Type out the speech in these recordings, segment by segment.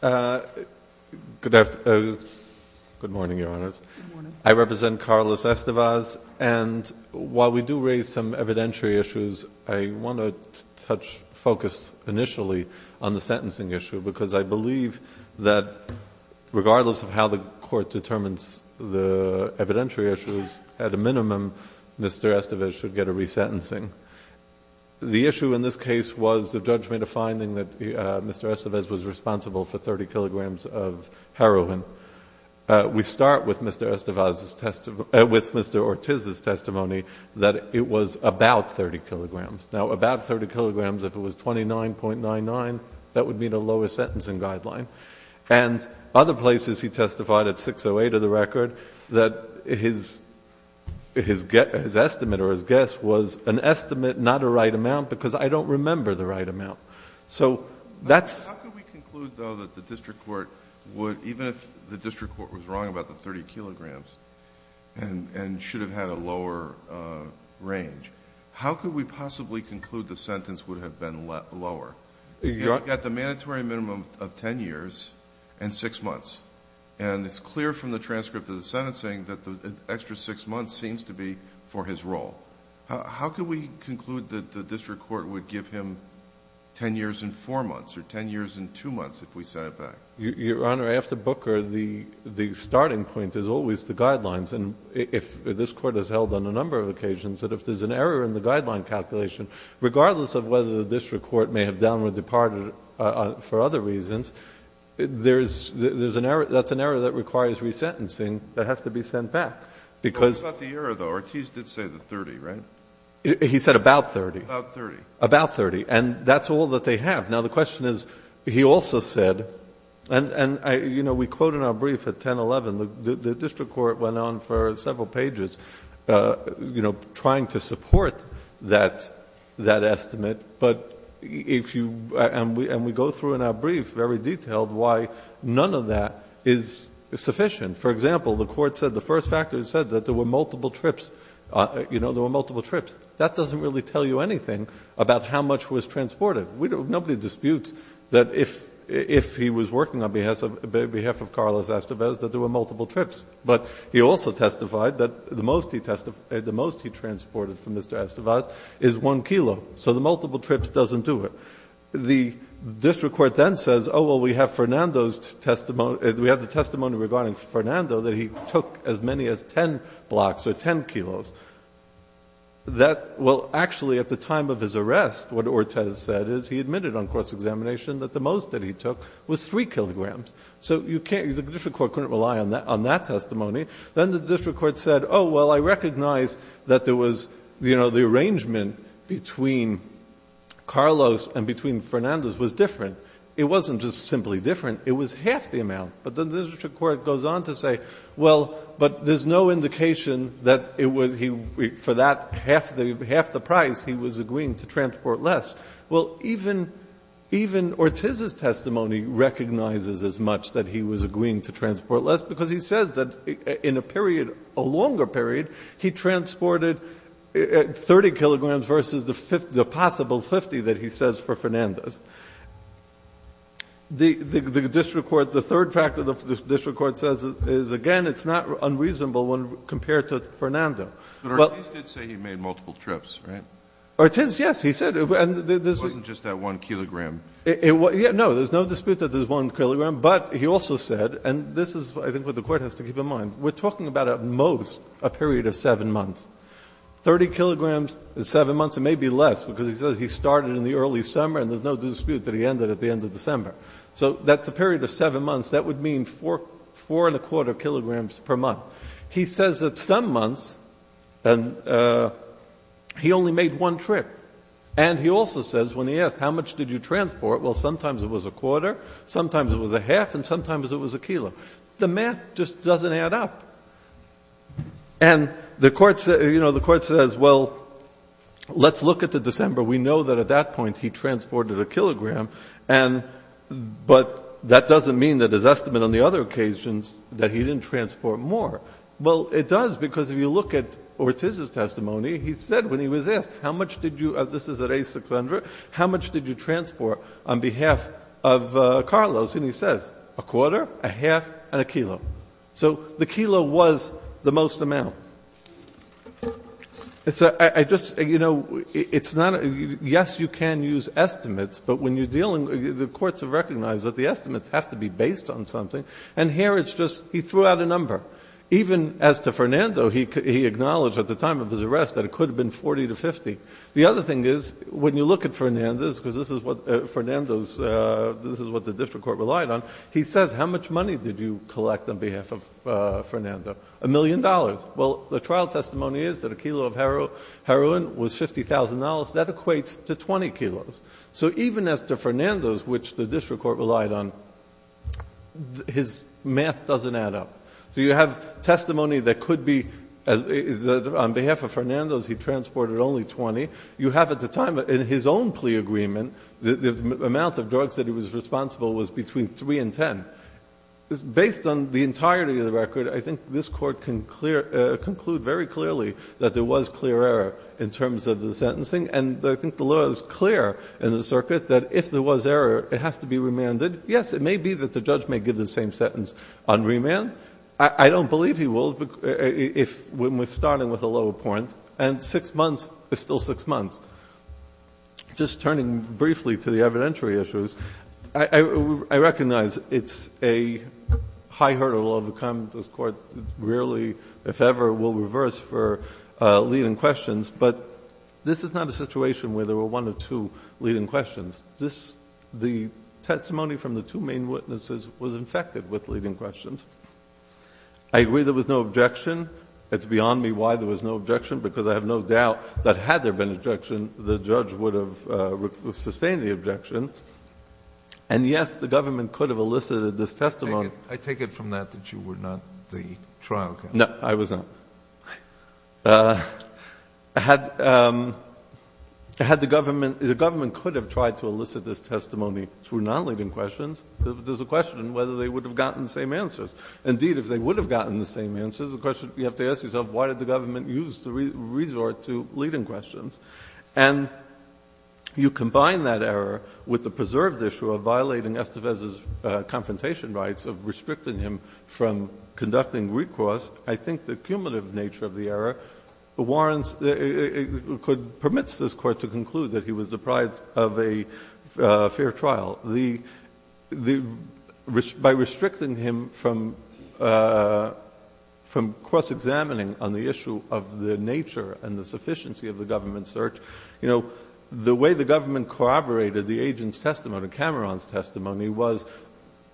Good morning, Your Honors. I represent Carlos Estevez, and while we do raise some evidentiary issues, I want to touch, focus initially on the sentencing issue because I believe that regardless of how the Court determines the evidentiary issues, at a minimum, Mr. Estevez should get a resentencing. The issue in this case was the judgment of finding that Mr. Estevez was responsible for 30 kilograms of heroin. We start with Mr. Estevez's testimony, with Mr. Ortiz's testimony that it was about 30 kilograms. Now, about 30 kilograms, if it was 29.99, that would meet a lower sentencing guideline. And other places he testified at 608 of the record that his estimate or his guess was an estimate, not a right amount because I don't remember the right amount. So that's How could we conclude, though, that the district court would, even if the district court was wrong about the 30 kilograms and should have had a lower range, how could we possibly conclude the sentence would have been lower? Your Honor At the mandatory minimum of 10 years and 6 months. And it's clear from the transcript of the sentencing that the extra 6 months seems to be for his role. How could we conclude that the district court would give him 10 years and 4 months or 10 years and 2 months if we sent it back? Your Honor, after Booker, the starting point is always the guidelines. And if this Court has held on a number of occasions that if there's an error in the guideline calculation, regardless of whether the district court may have done or departed for other reasons, there's an error. That's an error that requires resentencing that has to be sent back. Because What about the error, though? Ortiz did say the 30, right? He said about 30. About 30. About 30. And that's all that they have. Now, the question is, he also said, and, you know, we quote in our brief at 1011, the district court went on for several pages, you know, trying to support that estimate. But if you — and we go through in our brief very detailed why none of that is sufficient. For example, the Court said the first factor said that there were multiple trips. You know, there were multiple trips. That doesn't really tell you anything about how much was transported. Nobody disputes that if he was working on behalf of Carlos Estevez, that there were multiple trips. But he also testified that the most he transported from Mr. Estevez is 1 kilo. So the multiple trips doesn't do it. The district court then says, oh, well, we have Fernando's testimony — we have the 10 blocks or 10 kilos. That — well, actually, at the time of his arrest, what Ortiz said is he admitted on course examination that the most that he took was 3 kilograms. So you can't — the district court couldn't rely on that testimony. Then the district court said, oh, well, I recognize that there was — you know, the arrangement between Carlos and between Fernando's was different. It wasn't just simply different. It was no indication that it was — he — for that half the — half the price, he was agreeing to transport less. Well, even — even Ortiz's testimony recognizes as much that he was agreeing to transport less, because he says that in a period — a longer period, he transported 30 kilograms versus the possible 50 that he says for Fernando's. The district court — the third factor the district court says is, again, it's not unreasonable when compared to Fernando. But Ortiz did say he made multiple trips, right? Ortiz, yes. He said — and this is — It wasn't just that one kilogram. It — no, there's no dispute that there's one kilogram. But he also said — and this is, I think, what the Court has to keep in mind. We're talking about, at most, a period of 7 months. 30 kilograms in 7 months, it may be less, because he says he started in the early summer, and there's no dispute that he ended at the end of December. So that's a period of 7 months. That would mean 4 and a quarter kilograms per month. He says that some months, and — he only made one trip. And he also says, when he asked how much did you transport, well, sometimes it was a quarter, sometimes it was a half, and sometimes it was a kilo. The math just doesn't add up. And the Court said — you know, the Court says, well, let's look at the December. We know that, at that point, he transported a kilogram. And — but that doesn't mean that his estimate on the other occasions, that he didn't transport more. Well, it does, because if you look at Ortiz's testimony, he said, when he was asked, how much did you — this is at A600 — how much did you transport on behalf of Carlos? And he says, a quarter, a half, and a kilo. So the kilo was the most amount. So I just — you know, it's not — yes, you can use estimates, but when you're dealing — the courts have recognized that the estimates have to be based on something. And here it's just — he threw out a number. Even as to Fernando, he acknowledged at the time of his arrest that it could have been 40 to 50. The other thing is, when you look at Fernando's, because this is what Fernando's — this is what the district court relied on, he says, how much money did you collect on behalf of Fernando? A million dollars. Well, the trial testimony is that a kilo of heroin was $50,000. That equates to 20 kilos. So even as to Fernando's, which the district court relied on, his math doesn't add up. So you have testimony that could be — on behalf of Fernando's, he transported only 20. You have at the time, in his own plea agreement, the amount of drugs that he was responsible was between 3 and 10. Based on the entirety of the record, I think this Court can clear — conclude very clearly that there was clear error in terms of the sentencing. And I think the law is clear in the circuit that if there was error, it has to be remanded. Yes, it may be that the judge may give the same sentence on remand. I don't believe he will if — when we're starting with a lower point. And six months is still six months. Just turning briefly to the evidentiary issues, I recognize it's a high hurdle of the two leading questions, but this is not a situation where there were one of two leading questions. This — the testimony from the two main witnesses was infected with leading questions. I agree there was no objection. It's beyond me why there was no objection because I have no doubt that had there been objection, the judge would have sustained the objection. And, yes, the government could have elicited this testimony. I take it from that that you were not the trial counsel. No, I was not. Had — had the government — the government could have tried to elicit this testimony through non-leading questions, there's a question whether they would have gotten the same answers. Indeed, if they would have gotten the same answers, the question — you have to ask yourself, why did the government use the resort to leading questions? And you combine that error with the preserved issue of violating Estevez's confrontation rights of restricting him from conducting recourse. I think the cumulative nature of the error warrants — permits this Court to conclude that he was deprived of a fair trial. The — by restricting him from cross-examining on the issue of the nature and the sufficiency of the government search, you know, the way the government corroborated the agent's testimony, Cameron's testimony, was,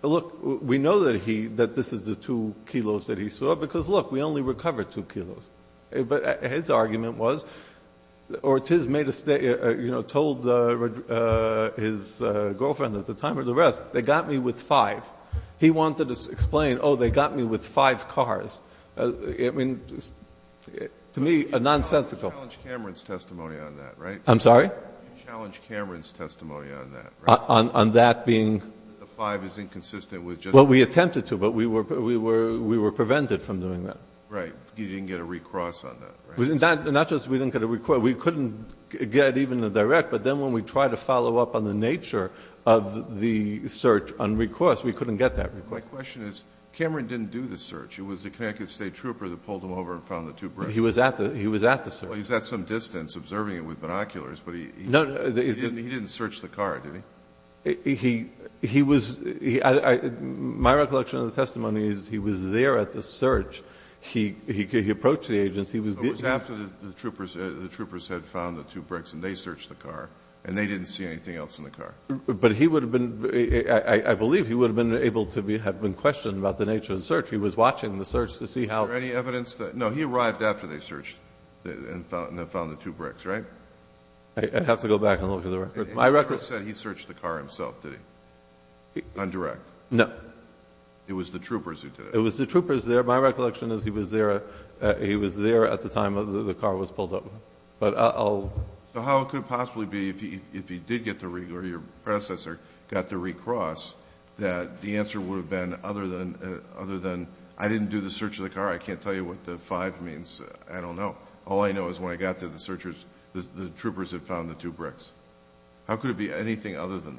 look, we know that he — that this is the 2 kilos that he saw, because, look, we only recovered 2 kilos. But his argument was — or it is made a — you know, told his girlfriend at the time or the rest, they got me with 5. He wanted to explain, oh, they got me with 5 cars. I mean, to me, a nonsensical — You challenged Cameron's testimony on that, right? I'm sorry? You challenged Cameron's testimony on that, right? On that being — The 5 is inconsistent with just — Well, we attempted to, but we were — we were — we were prevented from doing that. Right. You didn't get a recourse on that, right? Not just we didn't get a recourse. We couldn't get even a direct. But then when we tried to follow up on the nature of the search on recourse, we couldn't get that recourse. My question is, Cameron didn't do the search. It was the Connecticut State trooper that pulled him over and found the 2 bricks. He was at the — he was at the search. No, no — He didn't search the car, did he? He was — my recollection of the testimony is he was there at the search. He approached the agents. He was — It was after the troopers had found the 2 bricks and they searched the car, and they didn't see anything else in the car. But he would have been — I believe he would have been able to be — have been questioned about the nature of the search. He was watching the search to see how — Is there any evidence that — no, he arrived after they searched and found the 2 bricks, right? I'd have to go back and look at the record. My record — He never said he searched the car himself, did he? On direct? No. It was the troopers who did it? It was the troopers there. My recollection is he was there — he was there at the time the car was pulled over. But I'll — So how could it possibly be, if he did get the — or your predecessor got the recross, that the answer would have been other than — other than, I didn't do the search of the car, I can't tell you what the 5 means, I don't know. All I know is when I got there, the searchers — the troopers had found the 2 bricks. How could it be anything other than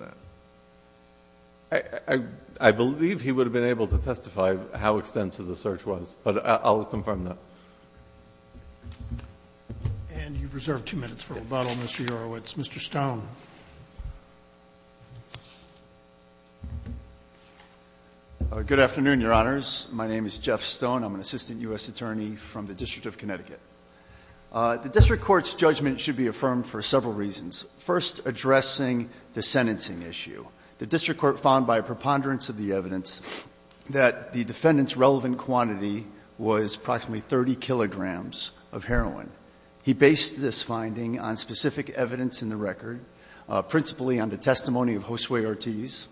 that? I — I believe he would have been able to testify how extensive the search was. But I'll confirm that. And you've reserved two minutes for rebuttal, Mr. Yorowitz. Mr. Stone. Good afternoon, Your Honors. My name is Jeff Stone. I'm an assistant U.S. attorney from the District of Connecticut. The district court's judgment should be affirmed for several reasons. First, addressing the sentencing issue. The district court found by a preponderance of the evidence that the defendant's relevant quantity was approximately 30 kilograms of heroin. He based this finding on specific evidence in the record, principally on the testimony of Josue Ortiz.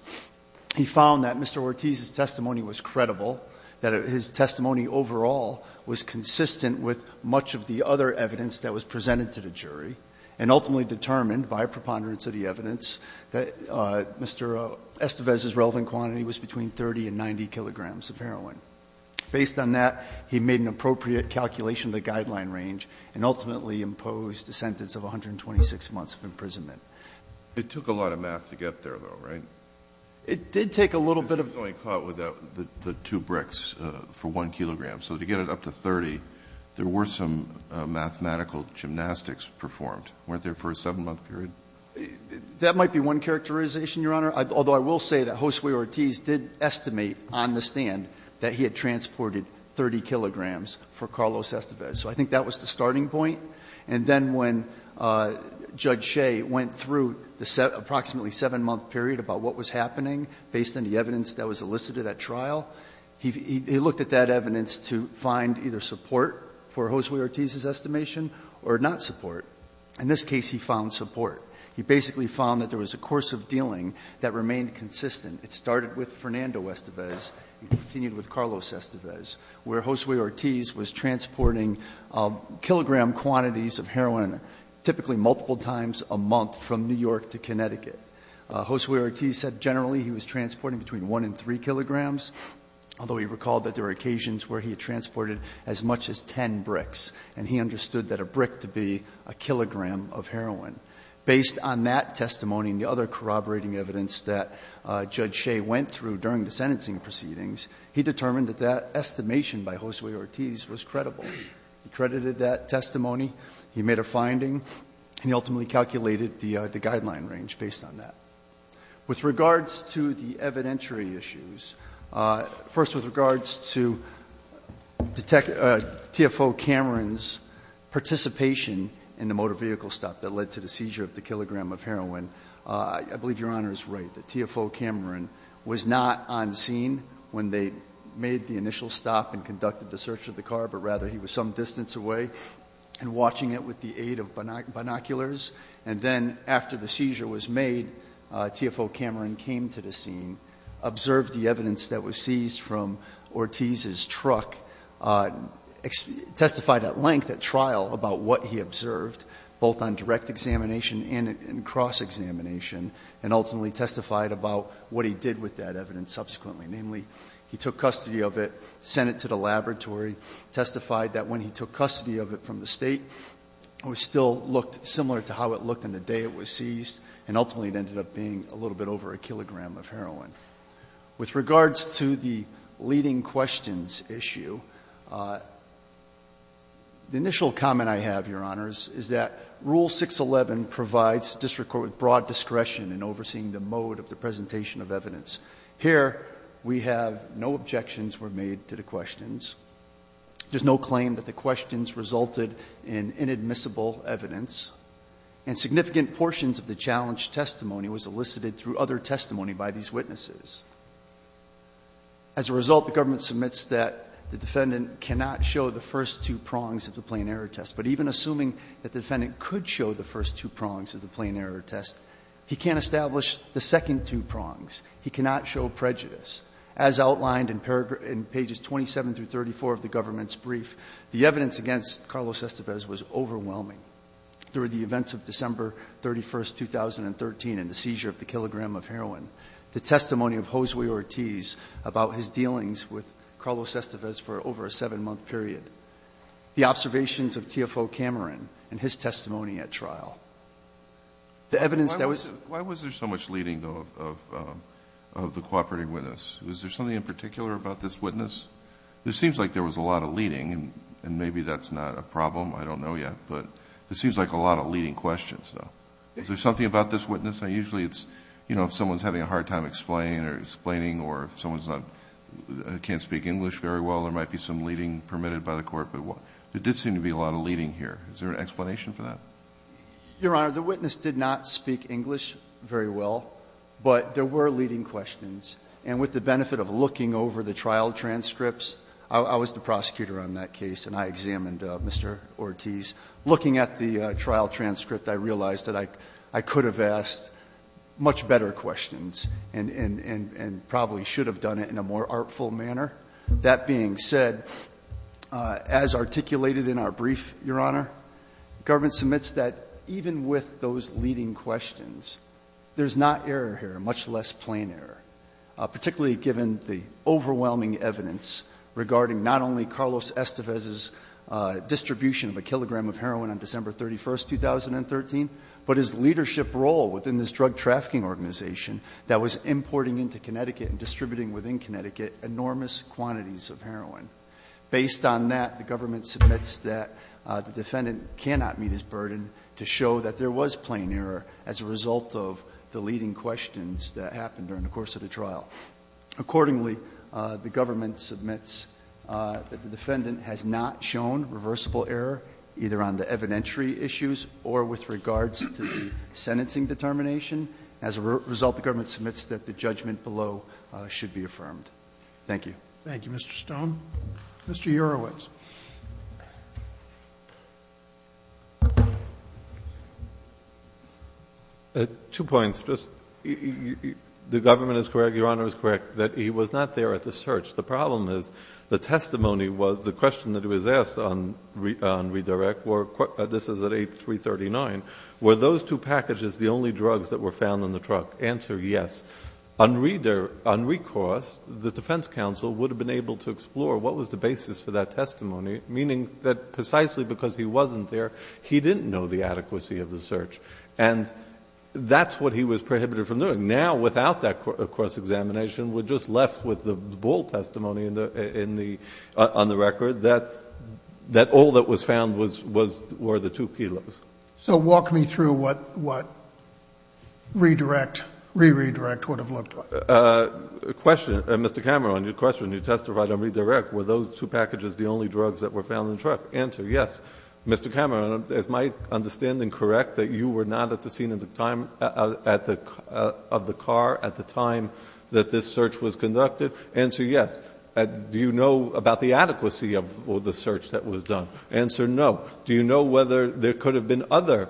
He found that Mr. Ortiz's testimony was credible, that his testimony overall was consistent with much of the other evidence that was presented to the jury, and ultimately determined by a preponderance of the evidence that Mr. Estevez's relevant quantity was between 30 and 90 kilograms of heroin. Based on that, he made an appropriate calculation of the guideline range and ultimately imposed a sentence of 126 months of imprisonment. It took a lot of math to get there, though, right? It did take a little bit of math. Because he was only caught with the two bricks for 1 kilogram. So to get it up to 30, there were some mathematical gymnastics performed. Weren't there for a 7-month period? That might be one characterization, Your Honor, although I will say that Josue Ortiz did estimate on the stand that he had transported 30 kilograms for Carlos Estevez. So I think that was the starting point. And then when Judge Shea went through the approximately 7-month period about what was happening based on the evidence that was elicited at trial, he looked at that evidence to find either support for Josue Ortiz's estimation or not support. In this case, he found support. He basically found that there was a course of dealing that remained consistent. It started with Fernando Estevez and continued with Carlos Estevez, where Josue Ortiz was transporting kilogram quantities of heroin, typically multiple times a month, from New York to Connecticut. Josue Ortiz said generally he was transporting between 1 and 3 kilograms, although he recalled that there were occasions where he transported as much as 10 bricks. And he understood that a brick to be a kilogram of heroin. Based on that testimony and the other corroborating evidence that Judge Shea went through during the sentencing proceedings, he determined that that estimation by Josue Ortiz was credible. He credited that testimony. He made a finding. And he ultimately calculated the guideline range based on that. With regards to the evidentiary issues, first with regards to TFO Cameron's participation in the motor vehicle stop that led to the seizure of the kilogram of heroin, I believe Your Honor is right, that TFO Cameron was not on scene when they made the initial stop and conducted the search of the car, but rather he was some distance away and watching it with the aid of binoculars. And then after the seizure was made, TFO Cameron came to the scene, observed the evidence that was seized from Ortiz's truck, testified at length at trial about what he observed, both on direct examination and in cross-examination, and ultimately testified about what he did with that evidence subsequently. Namely, he took custody of it, sent it to the laboratory, testified that when he took custody of it from the State, it still looked similar to how it looked on the day it was seized, and ultimately it ended up being a little bit over a kilogram of heroin. With regards to the leading questions issue, the initial comment I have, Your Honors, is that Rule 611 provides district court with broad discretion in overseeing the mode of the presentation of evidence. Here, we have no objections were made to the questions. There's no claim that the questions resulted in inadmissible evidence. And significant portions of the challenged testimony was elicited through other testimony by these witnesses. As a result, the government submits that the defendant cannot show the first two prongs of the plain error test. But even assuming that the defendant could show the first two prongs of the plain error test, he can't establish the second two prongs. He cannot show prejudice. As outlined in pages 27 through 34 of the government's brief, the evidence against Carlos Estevez was overwhelming. There were the events of December 31st, 2013 and the seizure of the kilogram of heroin. The testimony of Josue Ortiz about his dealings with Carlos Estevez for over a seven month period. The observations of TFO Cameron and his testimony at trial. The evidence that was- Why was there so much leading, though, of the cooperating witness? Was there something in particular about this witness? It seems like there was a lot of leading, and maybe that's not a problem. I don't know yet, but it seems like a lot of leading questions, though. Is there something about this witness? Usually, it's, you know, if someone's having a hard time explaining or if someone's not, can't speak English very well, there might be some leading permitted by the court, but there did seem to be a lot of leading here. Is there an explanation for that? Your Honor, the witness did not speak English very well, but there were leading questions. And with the benefit of looking over the trial transcripts, I was the prosecutor on that case and I examined Mr. Ortiz. Looking at the trial transcript, I realized that I could have asked much better questions and probably should have done it in a more artful manner. That being said, as articulated in our brief, Your Honor, government submits that even with those leading questions, there's not error here, much less plain error, particularly given the overwhelming evidence regarding not only Carlos Estevez's distribution of a kilogram of heroin on December 31st, 2013, but his leadership role within this drug trafficking organization that was importing into Connecticut and distributing within Connecticut enormous quantities of heroin. Based on that, the government submits that the defendant cannot meet his burden to show that there was plain error as a result of the leading questions that happened during the course of the trial. Accordingly, the government submits that the defendant has not shown reversible error either on the evidentiary issues or with regards to the sentencing determination. As a result, the government submits that the judgment below should be affirmed. Thank you. Thank you, Mr. Stone. Mr. Urowitz. Two points. One is just the government is correct, Your Honor is correct, that he was not there at the search. The problem is the testimony was the question that was asked on redirect, this is at 8339, were those two packages the only drugs that were found in the truck? Answer, yes. On recourse, the defense counsel would have been able to explore what was the basis for that testimony, meaning that precisely because he wasn't there, he didn't know the adequacy of the search. And that's what he was prohibited from doing. Now, without that cross-examination, we're just left with the bold testimony on the record that all that was found were the two kilos. So walk me through what redirect, re-redirect would have looked like. Mr. Cameron, your question, you testified on redirect, were those two packages the only drugs that were found in the truck? Answer, yes. Mr. Cameron, is my understanding correct that you were not at the scene of the time of the car at the time that this search was conducted? Answer, yes. Do you know about the adequacy of the search that was done? Answer, no. Do you know whether there could have been other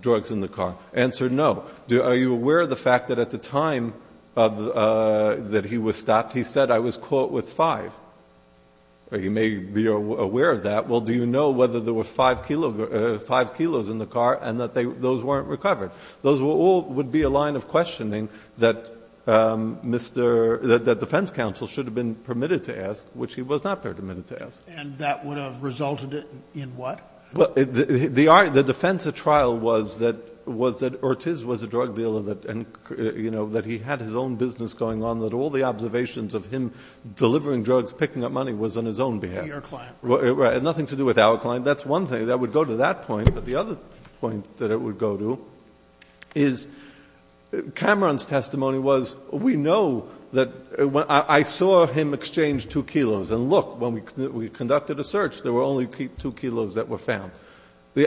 drugs in the car? Answer, no. Are you aware of the fact that at the time that he was stopped, he said, I was caught with five? You may be aware of that. Well, do you know whether there were five kilos in the car and that those weren't recovered? Those all would be a line of questioning that defense counsel should have been permitted to ask, which he was not permitted to ask. And that would have resulted in what? The defense at trial was that Ortiz was a drug dealer and, you know, that he had his own business going on, that all the observations of him delivering drugs, picking up money was on his own behalf. Nothing to do with our client. That's one thing that would go to that point. But the other point that it would go to is Cameron's testimony was, we know that I saw him exchange two kilos. And look, when we conducted a search, there were only two kilos that were found.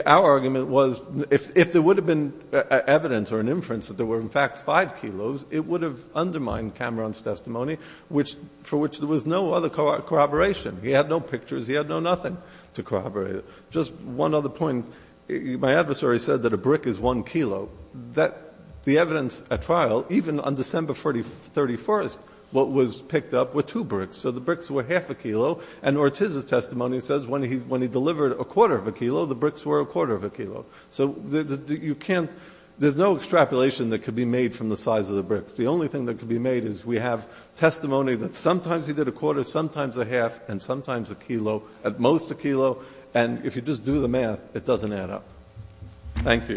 Our argument was if there would have been evidence or an inference that there were, in fact, five kilos, it would have undermined Cameron's testimony, for which there was no other corroboration. He had no pictures. He had no nothing to corroborate. Just one other point. My adversary said that a brick is one kilo. The evidence at trial, even on December 31st, what was picked up were two bricks. So the bricks were half a kilo. And Ortiz's testimony says when he delivered a quarter of a kilo, the bricks were a quarter of a kilo. So you can't — there's no extrapolation that could be made from the size of the bricks. The only thing that could be made is we have testimony that sometimes he did a quarter, sometimes a half, and sometimes a kilo, at most a kilo. And if you just do the math, it doesn't add up. Thank you.